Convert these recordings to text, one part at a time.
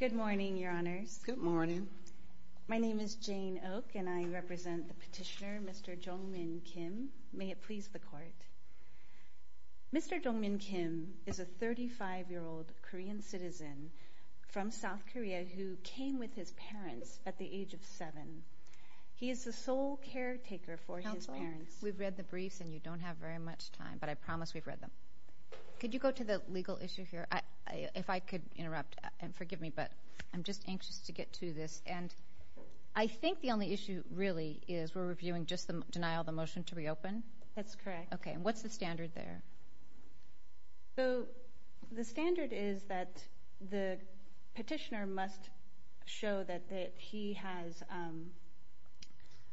Good morning, Your Honors. Good morning. My name is Jane Oak, and I represent the petitioner, Mr. Jong Min Kim. May it please the Court. Mr. Jong Min Kim is a 35-year-old Korean citizen from South Korea who came with his parents at the age of seven. He is the sole caretaker for his parents. Counsel, we've read the briefs, and you don't have very much time, but I promise we've read them. Could you go to the legal issue here? If I could interrupt, and forgive me, but I'm just anxious to get to this. And I think the only issue really is we're reviewing just the denial of the motion to reopen? That's correct. Okay, and what's the standard there? The standard is that the petitioner must show that he has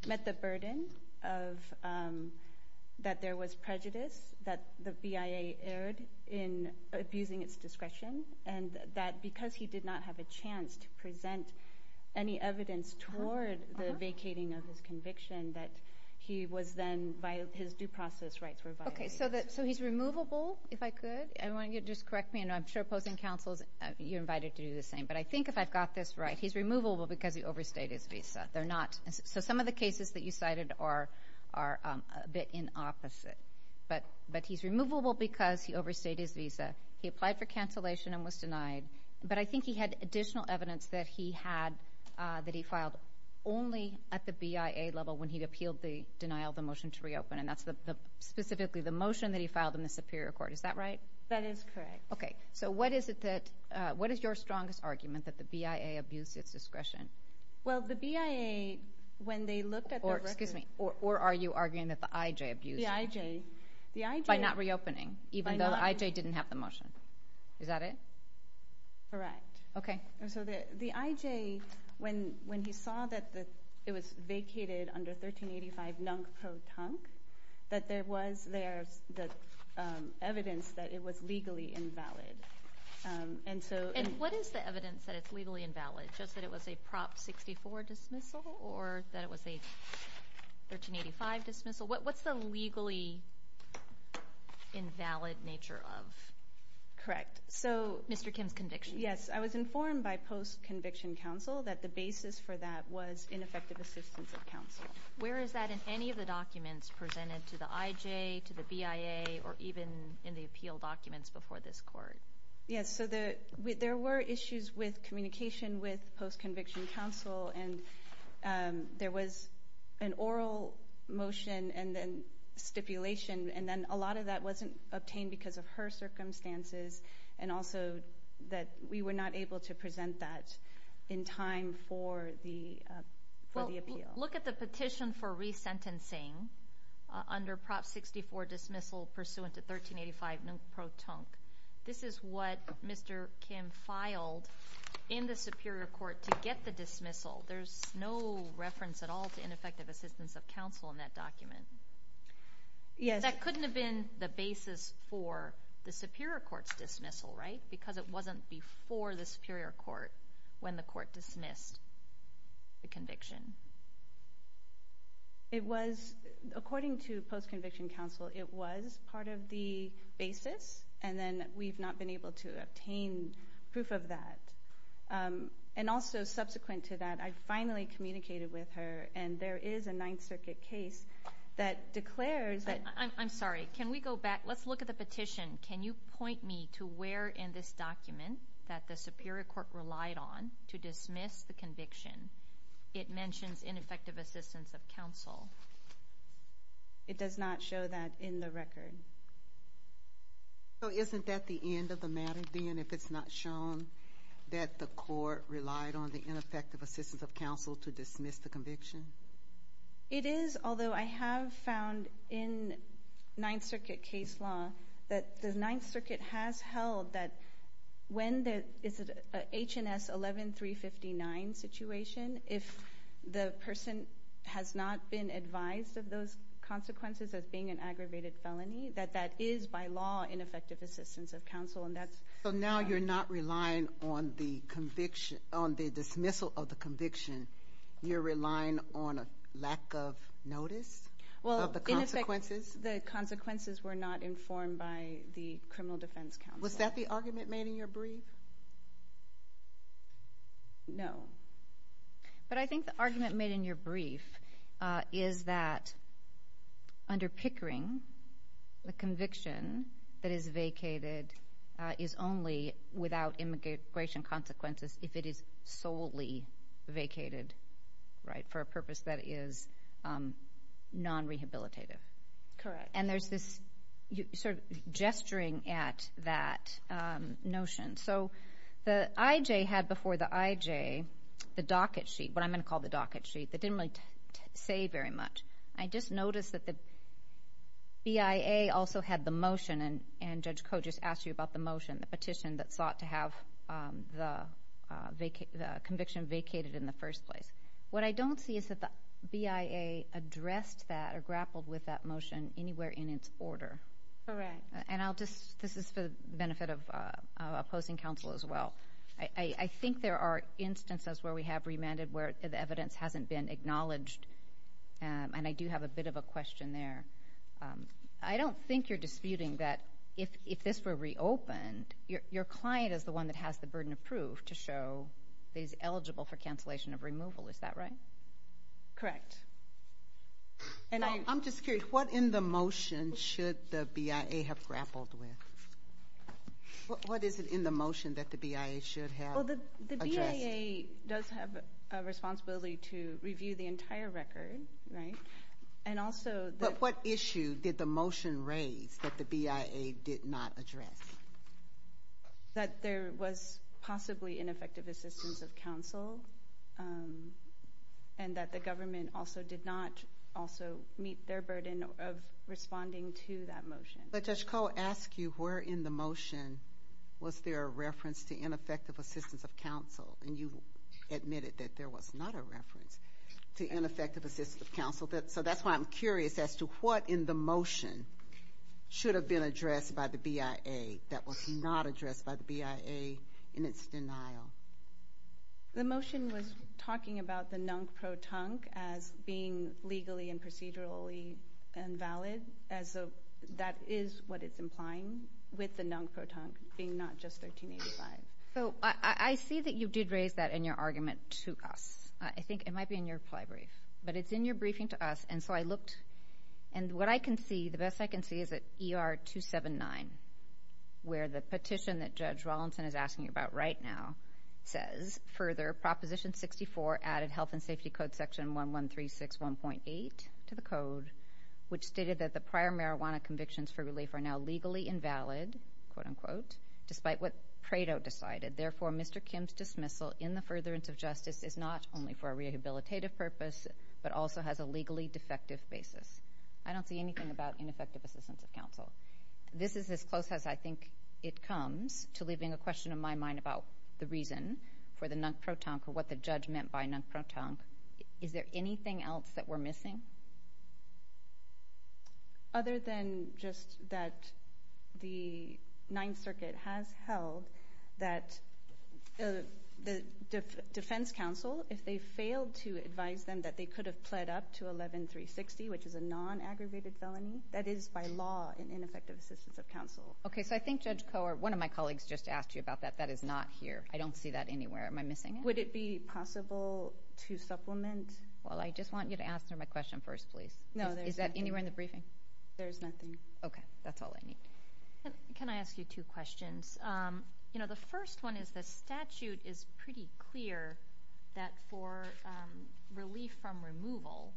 met the burden of that there was prejudice that the BIA erred in abusing its discretion, and that because he did not have a chance to present any evidence toward the vacating of his conviction, that he was then violated, his due process rights were violated. Okay, so he's removable, if I could? I want you to just correct me, and I'm sure opposing counsels, you're invited to do the same. But I think if I've got this right, he's removable because he overstayed his visa. They're not. Some of the cases that you cited are a bit in opposite, but he's removable because he overstayed his visa. He applied for cancellation and was denied, but I think he had additional evidence that he had, that he filed only at the BIA level when he appealed the denial of the motion to reopen, and that's specifically the motion that he filed in the Superior Court. Is that right? That is correct. Okay, so what is your strongest argument that the BIA abused its discretion? Well, the BIA, when they looked at the record... Excuse me, or are you arguing that the IJ abused it? The IJ, the IJ... By not reopening, even though the IJ didn't have the motion. Is that it? Correct. Okay. So the IJ, when he saw that it was vacated under 1385 nunc pro tonc, that there was evidence that it was legally invalid, and so... And what is the evidence that it was a Prop 64 dismissal or that it was a 1385 dismissal? What's the legally invalid nature of Mr. Kim's conviction? Yes, I was informed by post-conviction counsel that the basis for that was ineffective assistance of counsel. Where is that in any of the documents presented to the IJ, to the BIA, or even in the appeal documents before this court? Yes, so there were issues with communication with post-conviction counsel, and there was an oral motion and then stipulation, and then a lot of that wasn't obtained because of her circumstances, and also that we were not able to present that in time for the appeal. Well, look at the petition for resentencing under Prop 64 dismissal pursuant to 1385 nunc pro tonc. This is what Mr. Kim filed in the Superior Court to get the dismissal. There's no reference at all to ineffective assistance of counsel in that document. Yes. That couldn't have been the basis for the Superior Court's dismissal, right? Because it wasn't before the Superior Court when the court dismissed the According to post-conviction counsel, it was part of the basis, and then we've not been able to obtain proof of that. And also, subsequent to that, I finally communicated with her, and there is a Ninth Circuit case that declares that... I'm sorry, can we go back? Let's look at the petition. Can you point me to where in this document that the Superior Court relied on to dismiss the conviction? It mentions ineffective assistance of counsel. It does not show that in the record. So isn't that the end of the matter, then, if it's not shown that the court relied on the ineffective assistance of counsel to dismiss the conviction? It is, although I have found in Ninth Circuit case law that the Ninth Circuit has held that when there is an H&S 11359 situation, if the person has not been advised of those consequences as being an aggravated felony, that that is by law ineffective assistance of counsel, and that's... So now you're not relying on the dismissal of the conviction. You're relying on a lack of notice of the consequences? Well, in effect, the consequences were not informed by the Criminal Defense Counsel. Was that the argument made in your brief? No. But I think the argument made in your brief is that under Pickering, the conviction that is vacated is only without immigration consequences if it is solely vacated, right, for a purpose that is non-rehabilitative. Correct. And there's this sort of gesturing at that notion. So the IJ had before the IJ the docket sheet, what I'm going to call the docket sheet, that didn't really say very much. I just noticed that the BIA also had the motion, and Judge Koh just asked you about the motion, the petition that sought to have the conviction vacated in the first place. What I don't see is that the BIA addressed that or grappled with that motion anywhere in its order. Correct. And I'll just... This is for the benefit of opposing counsel as well. I think there are instances where we have remanded where the evidence hasn't been acknowledged, and I do have a bit of a question there. I don't think you're disputing that if this were reopened, your client is the one that has the burden of proof to show that he's eligible for cancellation of removal. Is that right? Correct. And I'm just curious, what in the motion should the BIA have grappled with? What is it in the motion that the BIA should have addressed? Well, the BIA does have a responsibility to review the entire record, right, and also... But what issue did the motion raise that the BIA did not address? That there was possibly ineffective assistance of counsel, and that the government also did not also meet their burden of responding to that motion. But Judge Koh asked you where in the motion was there a reference to ineffective assistance of counsel, and you admitted that there was not a reference to ineffective assistance of counsel. So that's why I'm curious as to what in the motion should have been addressed by the BIA that was not addressed by the BIA in its denial. The motion was talking about the NUNC protunque as being legally and procedurally invalid, as though that is what it's implying with the NUNC protunque being not just 1385. So I see that you did raise that in your argument to us. I think it might be in your reply brief. But it's in your briefing to us, and so I looked... And what I can see, the best I can see is that ER 279, where the petition that Judge Rollinson is asking about right now says, further, Proposition 64 added Health and Safety Code Section 11361.8 to the code, which stated that the prior marijuana convictions for relief are now legally invalid, quote unquote, despite what Prado decided. Therefore, Mr. Kim's dismissal in the furtherance of justice is not only for a rehabilitative purpose, but also has a legally defective basis. I don't see anything about ineffective assistance of counsel. This is as close as I think it comes to leaving a question on my mind about the reason for the NUNC protunque or what the judge meant by NUNC protunque. Is there anything else that we're missing? Other than just that the Ninth Circuit has held that the defense counsel, if they failed to advise them that they could have pled up to 11360, which is a non-aggravated felony, that is by law an ineffective assistance of counsel. Okay, so I think Judge Kohler, one of my colleagues just asked you about that. That is not here. I don't see that anywhere. Am I missing it? Would it be possible to supplement? Well, I just want you to answer my question. I don't see that anywhere. Is that anywhere in the briefing? There's nothing. Okay, that's all I need. Can I ask you two questions? The first one is the statute is pretty clear that for relief from removal,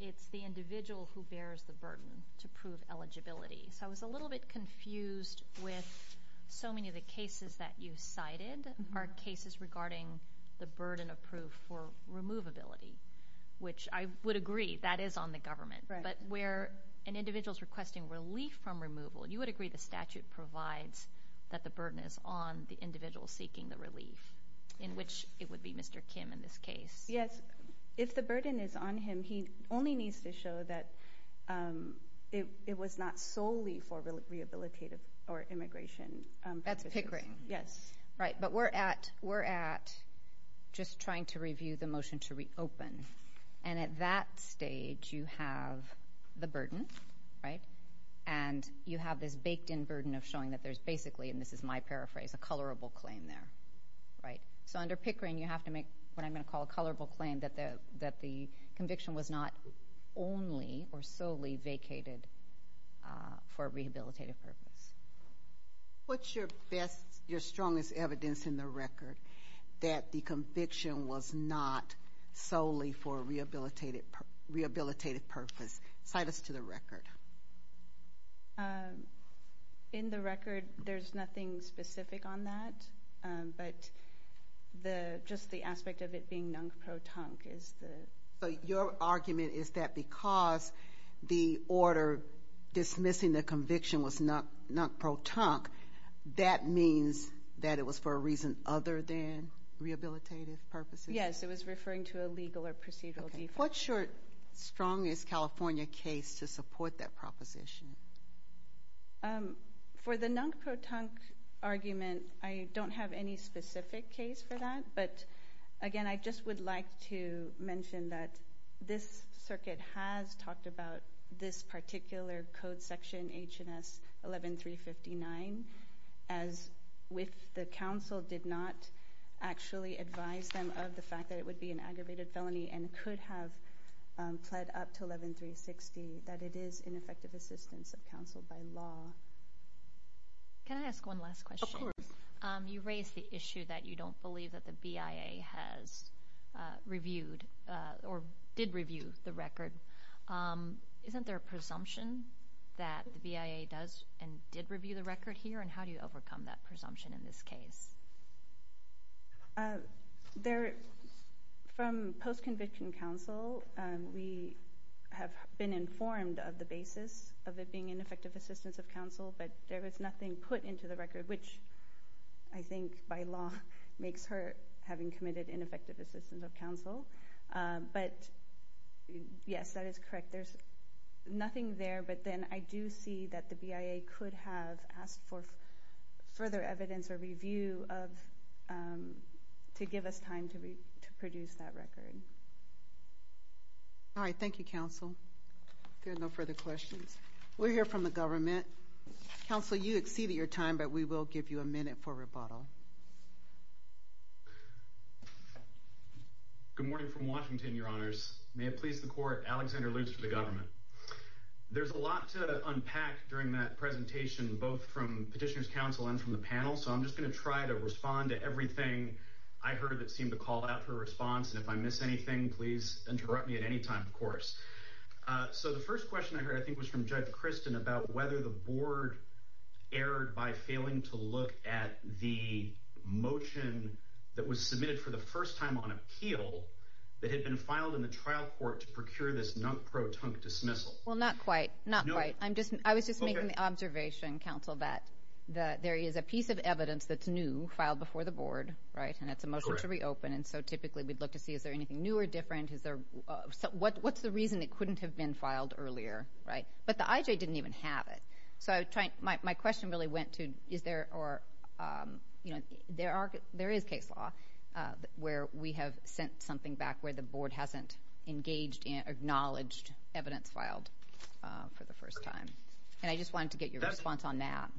it's the individual who bears the burden to prove eligibility. So I was a little bit confused with so many of the cases that you cited are cases regarding the burden of proof for the government. But where an individual's requesting relief from removal, you would agree the statute provides that the burden is on the individual seeking the relief, in which it would be Mr. Kim in this case. Yes. If the burden is on him, he only needs to show that it was not solely for rehabilitative or immigration purposes. That's Pickering. Yes. Right. But we're at just trying to review the motion to reopen. And at that stage, you have the burden, right? And you have this baked-in burden of showing that there's basically, and this is my paraphrase, a colorable claim there, right? So under Pickering, you have to make what I'm going to call a colorable claim that the conviction was not only or solely vacated for a rehabilitative purpose. What's your best, your strongest evidence in the record that the conviction was not solely for a rehabilitative purpose? Cite us to the record. In the record, there's nothing specific on that. But just the aspect of it being non-pro-tunk is the... So your argument is that because the order dismissing the conviction was non-pro-tunk, that means that it was for a reason other than rehabilitative purposes? Yes. It was referring to a legal or procedural default. What's your strongest California case to support that proposition? For the non-pro-tunk argument, I don't have any specific case for that. But again, I just would like to mention that this circuit has talked about this particular code section, H&S 11359, as with the counsel did not actually advise them of the fact that it would be an aggravated felony and could have pled up to 11360, that it is ineffective assistance of counsel by law. Can I ask one last question? Of course. You raised the issue that you don't believe that the BIA has reviewed or did review the record. Isn't there a presumption that the BIA does and did review the record here? And how do you overcome that presumption in this case? From post-conviction counsel, we have been informed of the basis of it being ineffective assistance of counsel, but there was nothing put into the record, which I think by law makes her having committed ineffective assistance of counsel. But yes, that is correct. There's nothing there, but then I do see that the BIA could have asked for further evidence or review to give us time to produce that record. All right. Thank you, counsel. There are no further questions. We'll hear from the government. Counsel, you exceeded your time, but we will give you a minute for rebuttal. Good morning from Washington, Your Honors. May it please the court, Alexander Luce for the government. There's a lot to unpack during that presentation, both from petitioner's counsel and from the panel, so I'm just going to try to respond to everything I heard that seemed to call out for a response, and if I miss anything, please interrupt me at any time, of course. So the first question I heard, I think, was from Judge the motion that was submitted for the first time on appeal that had been filed in the trial court to procure this non-pro-tunk dismissal. Well, not quite. I was just making the observation, counsel, that there is a piece of evidence that's new, filed before the board, and it's a motion to reopen, and so typically we'd look to see is there anything new or different? What's the reason it couldn't have been filed earlier? But the IJ didn't even have it, so my question really went to there is case law where we have sent something back where the board hasn't engaged and acknowledged evidence filed for the first time, and I just wanted to get your response on that.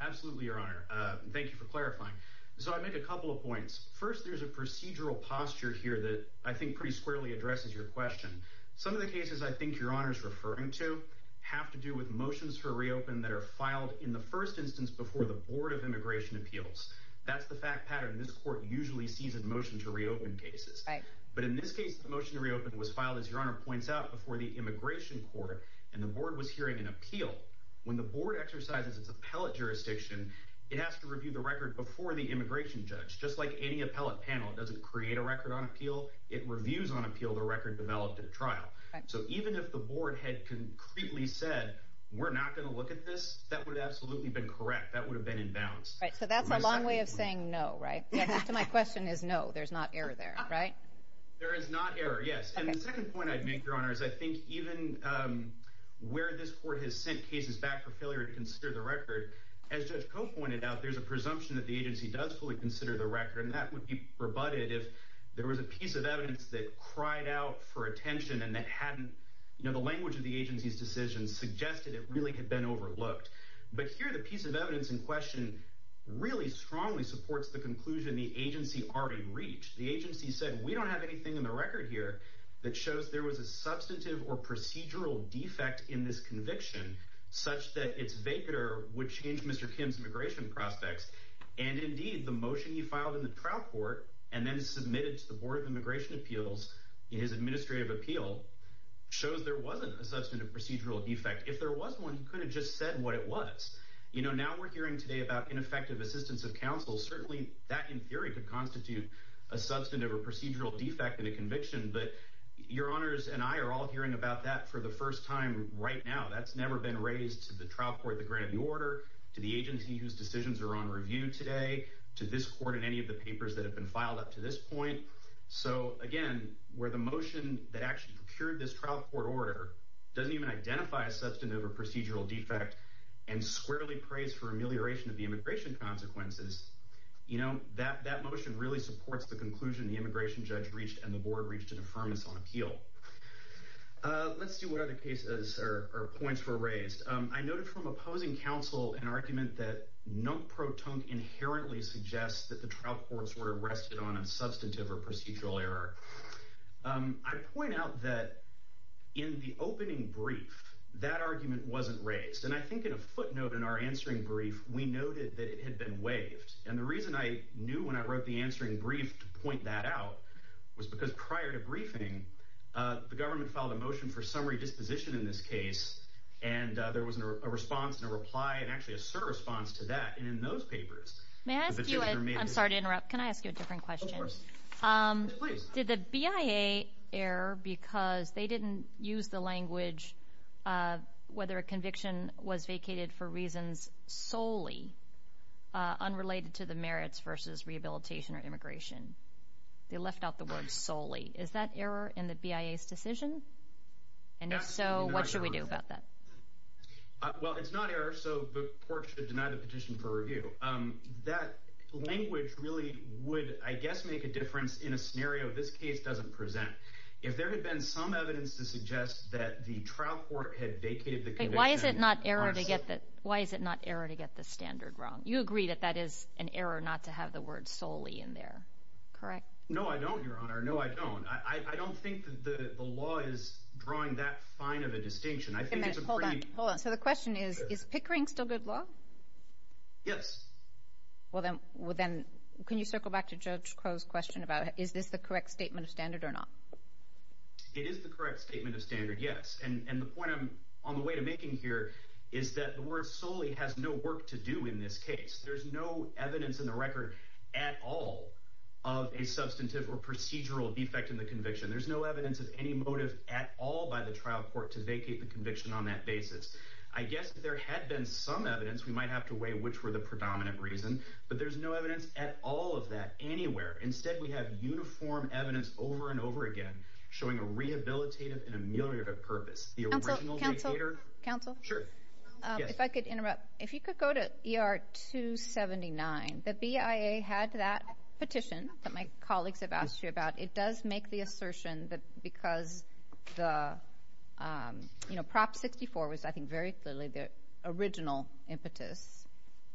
Absolutely, Your Honor. Thank you for clarifying. So I make a couple of points. First, there's a procedural posture here that I think pretty squarely addresses your question. Some of the cases I think Your Honor is referring to have to do with motions for before the board of immigration appeals. That's the fact pattern this court usually sees in motion to reopen cases. But in this case, the motion to reopen was filed, as Your Honor points out, before the immigration court, and the board was hearing an appeal. When the board exercises its appellate jurisdiction, it has to review the record before the immigration judge. Just like any appellate panel, it doesn't create a record on appeal. It reviews on appeal the record developed at a trial. So even if the board had concretely said, we're not going to look at this, that would have been correct. That would have been in balance. So that's a long way of saying no, right? My question is no, there's not error there, right? There is not error, yes. And the second point I'd make, Your Honor, is I think even where this court has sent cases back for failure to consider the record, as Judge Koch pointed out, there's a presumption that the agency does fully consider the record, and that would be rebutted if there was a piece of evidence that cried out for attention and that hadn't, you know, the language of the agency's decisions suggested it really had been overlooked. But here the piece of evidence in question really strongly supports the conclusion the agency already reached. The agency said, we don't have anything in the record here that shows there was a substantive or procedural defect in this conviction such that its vacater would change Mr. Kim's immigration prospects. And indeed, the motion he filed in the trial court and then submitted to the Board of Immigration Appeals in his administrative appeal shows there wasn't a substantive procedural defect. If there was one, he could have just said what it was. You know, now we're hearing today about ineffective assistance of counsel. Certainly that, in theory, could constitute a substantive or procedural defect in a conviction. But Your Honors and I are all hearing about that for the first time right now. That's never been raised to the trial court that granted the order, to the agency whose decisions are on review today, to this court and any of the papers that have been filed up to this point. So again, where the motion that actually procured this trial court order doesn't even identify a substantive or procedural defect and squarely prays for amelioration of the immigration consequences, you know, that motion really supports the conclusion the immigration judge reached and the board reached an affirmance on appeal. Let's see what other cases or points were raised. I noted from opposing counsel an argument that no pro tonk inherently suggests that the trial courts were arrested on a substantive or procedural error. I point out that in the opening brief, that argument wasn't raised. And I think in a footnote in our answering brief, we noted that it had been waived. And the reason I knew when I wrote the answering brief to point that out was because prior to briefing, the government filed a motion for summary disposition in this case. And there was a response and a reply and actually a sur response to that. And in those papers, I'm sorry to interrupt. Can I ask you a different question? Did the BIA error because they didn't use the language whether a conviction was vacated for reasons solely unrelated to the merits versus rehabilitation or immigration? They left out the word solely. Is that error in the BIA's decision? And if so, what should we do about that? Well, it's not error. So the court should deny the petition for review. That language really would, I guess, make a difference in a scenario. This case doesn't present. If there had been some evidence to suggest that the trial court had vacated, why is it not error to get that? Why is it not error to get the standard wrong? You agree that that is an error not to have the word solely in there, correct? No, I don't, Your Honor. No, I don't. I don't think the law is drawing that fine of a distinction. Hold on. So the question is, is Pickering still good law? Yes. Well then, can you circle back to Judge Crow's question about is this the correct statement of standard or not? It is the correct statement of standard, yes. And the point I'm on the way to making here is that the word solely has no work to do in this case. There's no evidence in the record at all of a substantive or procedural defect in the conviction. There's no evidence of any motive at all by the trial court to vacate the conviction on that basis. I guess if there had been some evidence, we might have to weigh which were the predominant reason, but there's no evidence at all of that anywhere. Instead, we have uniform evidence over and over again showing a rehabilitative and ameliorative purpose. The original vacator. Counsel, counsel. Sure. If I could interrupt. If you could go to ER 279, the BIA had that petition that my because the, you know, Prop 64 was, I think, very clearly the original impetus.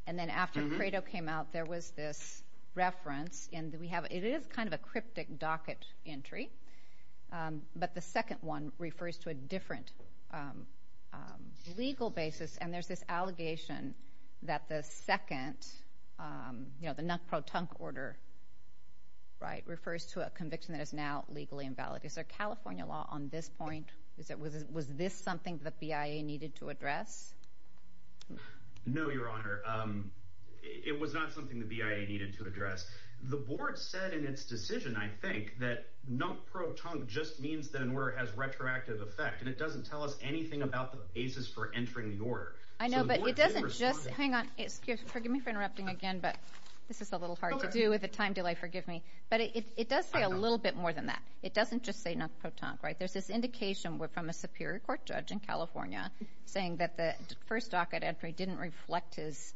And then after Credo came out, there was this reference. And we have, it is kind of a cryptic docket entry, but the second one refers to a different legal basis. And there's this allegation that the second, you know, the Nuck Pro Tunk order, right, refers to a conviction that is now legally invalid. Is there California law on this point? Is it, was this something that BIA needed to address? No, Your Honor. It was not something the BIA needed to address. The board said in its decision, I think, that Nuck Pro Tunk just means that an order has retroactive effect. And it doesn't tell us anything about the basis for entering the order. I know, but it doesn't just hang on. Forgive me for interrupting again, but this is a little hard to do with a time delay. Forgive me. But it does say a little bit more than that. It doesn't just say Nuck Pro Tunk, right? There's this indication from a superior court judge in California saying that the first docket entry didn't reflect his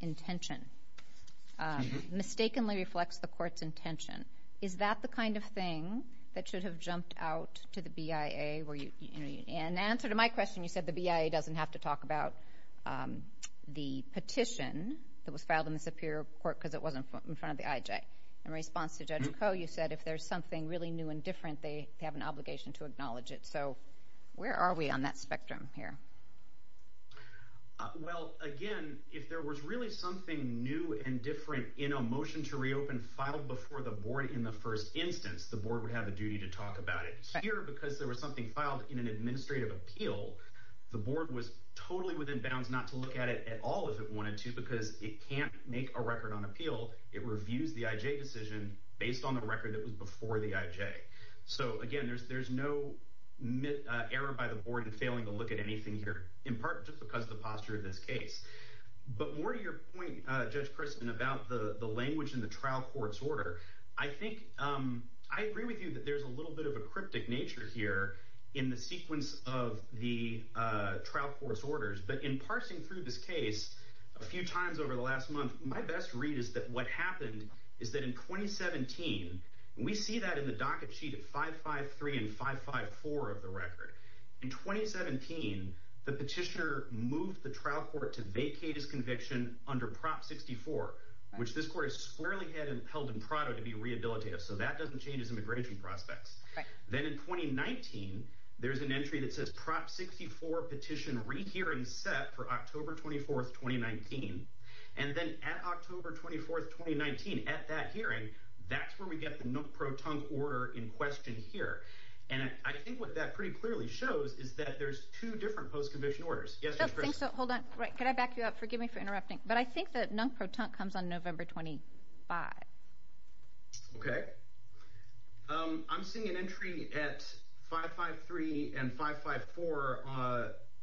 intention. Mistakenly reflects the court's intention. Is that the kind of thing that should have jumped out to the BIA, where you, you know, in answer to my question, you said the BIA doesn't have to talk about the petition that was filed in the superior court because it wasn't in front of the IJ. In response to Judge Coe, you said if there's something really new and different, they have an obligation to acknowledge it. So where are we on that spectrum here? Well, again, if there was really something new and different in a motion to reopen filed before the board in the first instance, the board would have a duty to talk about it here because there was something filed in an administrative appeal. The board was totally within bounds not to look at it at all if it wanted to, because it can't make a record on appeal. It reviews the IJ decision based on the record that was before the IJ. So again, there's no error by the board in failing to look at anything here, in part just because of the posture of this case. But more to your point, Judge Crispin, about the language in the trial court's order, I think I agree with you that there's a little bit of a cryptic nature here in the sequence of the trial court's orders. But in parsing through this case a few times over the last month, my best read is that what happened is that in 2017, we see that in the docket sheet at 553 and 554 of the record. In 2017, the petitioner moved the trial court to vacate his conviction under Prop 64, which this court has squarely held in Prado to be rehabilitative. So that doesn't change his immigration prospects. Then in 2019, there's an entry that says Prop 64 Petition Rehearing Set for October 24th, 2019. And then at October 24th, 2019, at that hearing, that's where we get the Nunk-Pro-Tunk order in question here. And I think what that pretty clearly shows is that there's two different post-conviction orders. Yes, Judge Crispin? Hold on. Could I back you up? Forgive me for interrupting. But I think that Nunk-Pro-Tunk comes on November 25th. Okay. I'm seeing an entry at 553 and 554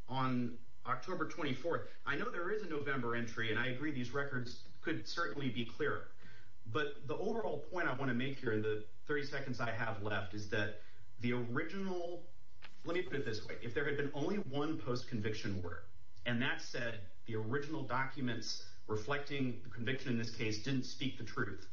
on October 24th. I know there is a November entry, and I agree these records could certainly be clearer. But the overall point I want to make here in the 30 seconds I have left is that the original... And that said, the original documents reflecting the conviction in this case didn't speak the truth.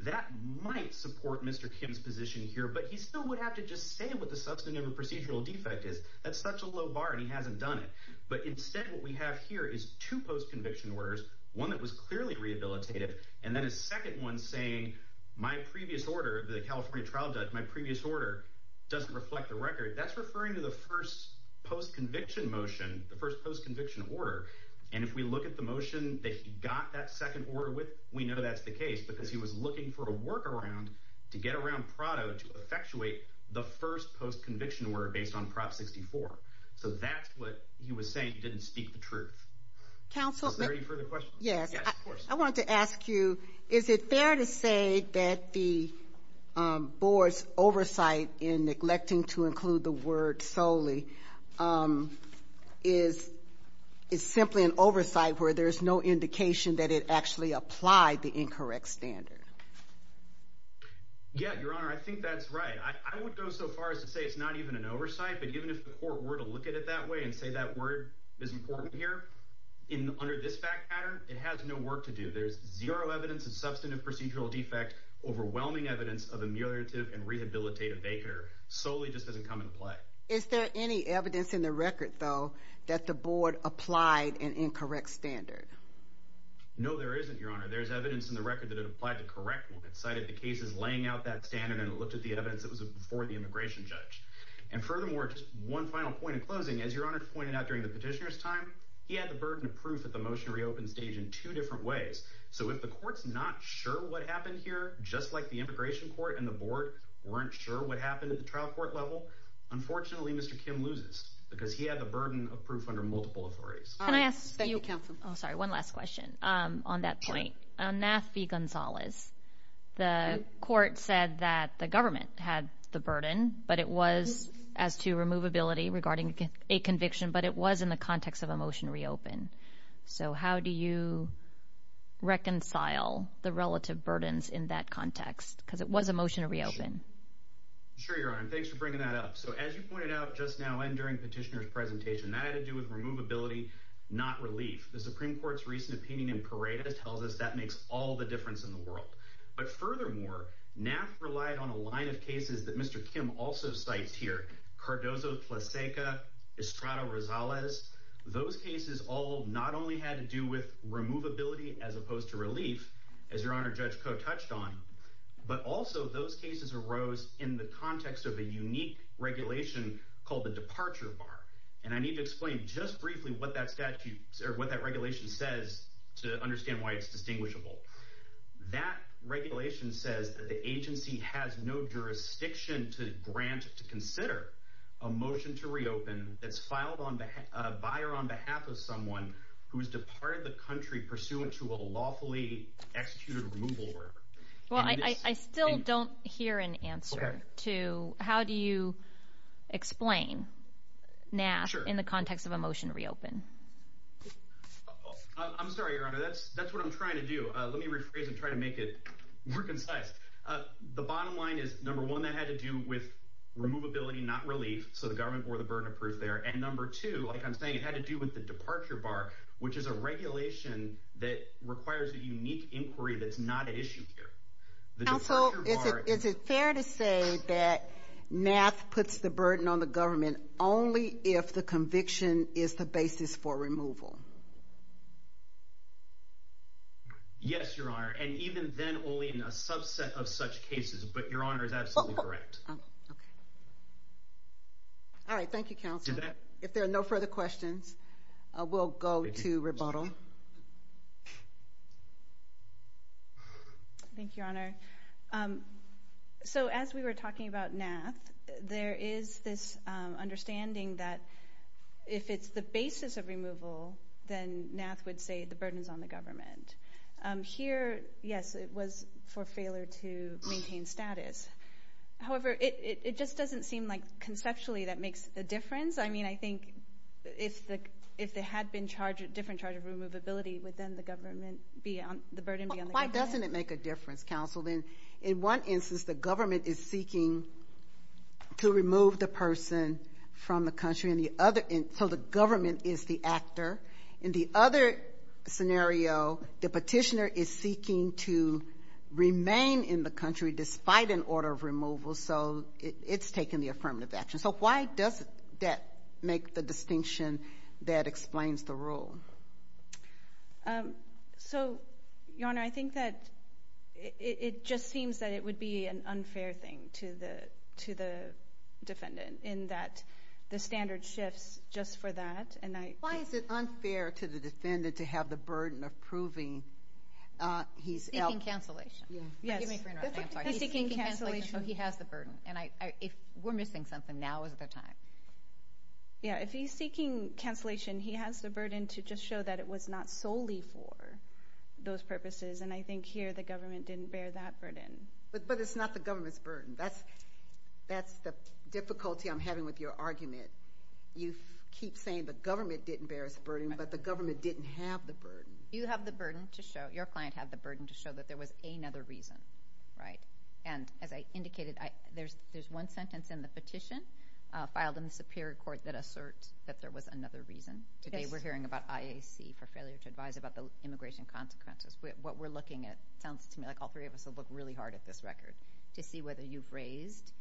That might support Mr. Kim's position here, but he still would have to just say what the substantive and procedural defect is. That's such a low bar and he hasn't done it. But instead, what we have here is two post-conviction orders, one that was clearly rehabilitative, and then a second one saying, my previous order, the California trial judge, my previous order doesn't reflect the record. That's referring to the first post-conviction motion, the first post-conviction order. And if we look at the motion that he got that second order with, we know that's the case because he was looking for a workaround to get around Prado to effectuate the first post-conviction order based on Prop 64. So that's what he was saying didn't speak the truth. Is there any further questions? Yes. I want to ask you, is it fair to say that the board's oversight in neglecting to include the word solely is simply an oversight where there's no indication that it actually applied the incorrect standard? Yeah, Your Honor, I think that's right. I would go so far as to say it's not even an oversight, but even if the court were to look at it that way and say that word is important here, under this fact pattern, it has no work to do. There's zero evidence of substantive procedural defect, overwhelming evidence of ameliorative and rehabilitative vacar. Solely just doesn't come into play. Is there any evidence in the record, though, that the board applied an incorrect standard? No, there isn't, Your Honor. There's evidence in the record that it applied the correct one. It cited the cases laying out that standard and looked at the evidence that was before the immigration judge. And furthermore, just one final point in closing, as Your Honor pointed out during the petitioner's time, he had the burden of proof at the motion to reopen stage in two different ways. So if the court's not sure what happened here, just like the immigration court and the board weren't sure what happened at the trial court level, unfortunately, Mr. Kim loses because he had the burden of proof under multiple authorities. Can I ask you one last question on that point? On NAF v. Gonzalez, the court said that the government had the burden, but it was in the context of a motion to reopen. So how do you reconcile the relative burdens in that context? Because it was a motion to reopen. Sure, Your Honor. Thanks for bringing that up. So as you pointed out just now and during petitioner's presentation, that had to do with removability, not relief. The Supreme Court's recent opinion in Paredes tells us that makes all the difference in the world. But furthermore, NAF relied on a line of cases that Mr. Kim also cites here, Cardozo-Tlaseca, Estrada-Rosales. Those cases all not only had to do with removability as opposed to relief, as Your Honor, Judge Koh touched on, but also those cases arose in the context of a unique regulation called the departure bar. And I need to explain just briefly what that regulation says to understand why it's distinguishable. That regulation says that the agency has no jurisdiction to grant to consider a motion to reopen that's filed on the buyer on behalf of someone who has departed the country pursuant to a lawfully executed removal order. Well, I still don't hear an answer to how do you explain NAF in the context of a motion to reopen. I'm sorry, Your Honor. That's what I'm trying to do. Let me rephrase and try to make it more concise. The bottom line is, number one, that had to do with removability, not relief, so the government bore the burden of proof there. And number two, like I'm saying, it had to do with the departure bar, which is a regulation that requires a unique inquiry that's not at issue here. The departure bar— Counsel, is it fair to say that NAF puts the burden on the government only if the conviction is the basis for removal? Yes, Your Honor, and even then only in a subset of such cases, but Your Honor is absolutely correct. All right. Thank you, Counsel. If there are no further questions, we'll go to rebuttal. Thank you, Your Honor. So as we were talking about NAF, there is this understanding that if it's the basis of removal, then NAF would say the burden is on the government. Here, yes, it was for failure to maintain status. However, it just doesn't seem like within the government, the burden would be on the government. Why doesn't it make a difference, Counsel? In one instance, the government is seeking to remove the person from the country, so the government is the actor. In the other scenario, the petitioner is seeking to remain in the country despite an order of removal, so it's taking the affirmative action. So why does that make the distinction that explains the rule? So, Your Honor, I think that it just seems that it would be an unfair thing to the defendant in that the standard shifts just for that, and I... Why is it unfair to the defendant to have the burden of proving he's... Seeking cancellation. Yes. He's seeking cancellation. So he has the burden, and if we're missing something, now is the time. Yeah, if he's seeking cancellation, he has the burden to just show that it was not solely for those purposes, and I think here the government didn't bear that burden. But it's not the government's burden. That's the difficulty I'm having with your argument. You keep saying the government didn't bear its burden, but the government didn't have the burden. You have the burden to show... Your client had the burden to show that there was another reason, right? And as I indicated, there's one sentence in the petition filed in the Superior Court that asserts that there was another reason. Today, we're hearing about IAC for failure to advise about the immigration consequences. What we're looking at sounds to me like all three of us will look really hard at this record to see whether you've raised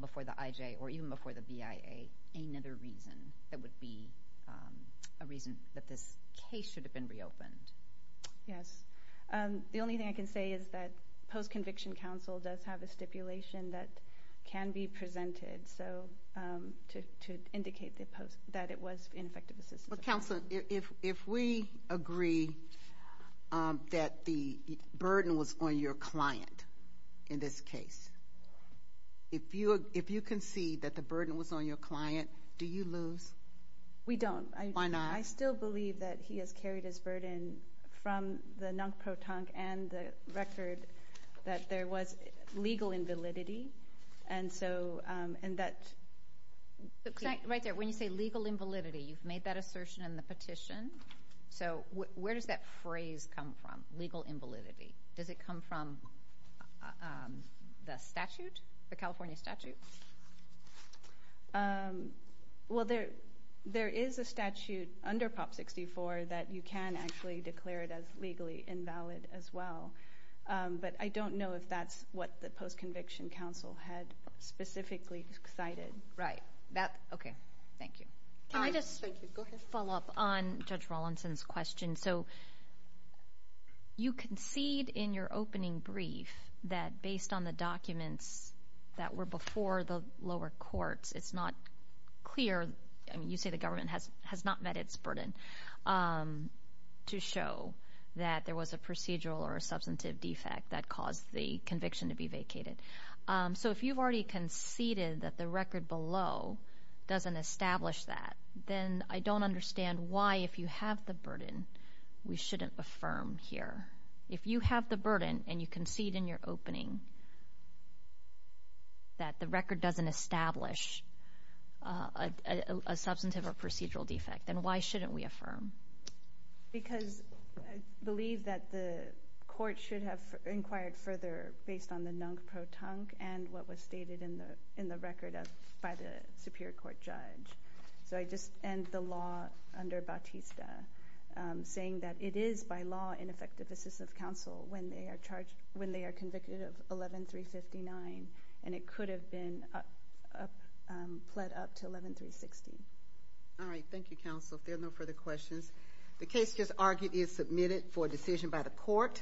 before the IJ or even before the BIA another reason that would be a reason that this case should have been reopened. Yes. The only thing I can say is that post-conviction counsel does have a stipulation that can be presented to indicate that it was ineffective assistance. Counsel, if we agree that the burden was on your client in this case, if you concede that the burden was on your client, do you lose? We don't. Why not? I still believe that he has carried his burden from the non-protonc and the record that there was legal invalidity. Right there, when you say legal invalidity, you've made that assertion in the petition. So where does that phrase come from, legal invalidity? Does it come from the statute, the California statute? Well, there is a statute under Prop 64 that you can actually declare it as legally invalid as well. But I don't know if that's what the post-conviction counsel had specifically cited. Right. Okay. Thank you. Can I just follow up on Judge Rawlinson's question? So you concede in your opening brief that based on the documents that were before the lower courts, it's not clear. I mean, you say the government has not met its burden to show that there was a procedural or a substantive defect that caused the conviction to be vacated. So if you've already conceded that the record below doesn't establish that, then I don't understand why, if you have the burden, we shouldn't affirm here. If you have the burden and you concede in your opening briefing that the record doesn't establish a substantive or procedural defect, then why shouldn't we affirm? Because I believe that the court should have inquired further based on the nunc pro tunc and what was stated in the record by the Superior Court judge. So I just end the law under Bautista, saying that it is, by law, ineffective assistance of counsel when they are convicted of 11-359, and it could have been pled up to 11-360. All right. Thank you, counsel. If there are no further questions, the case just argued is submitted for decision by the court.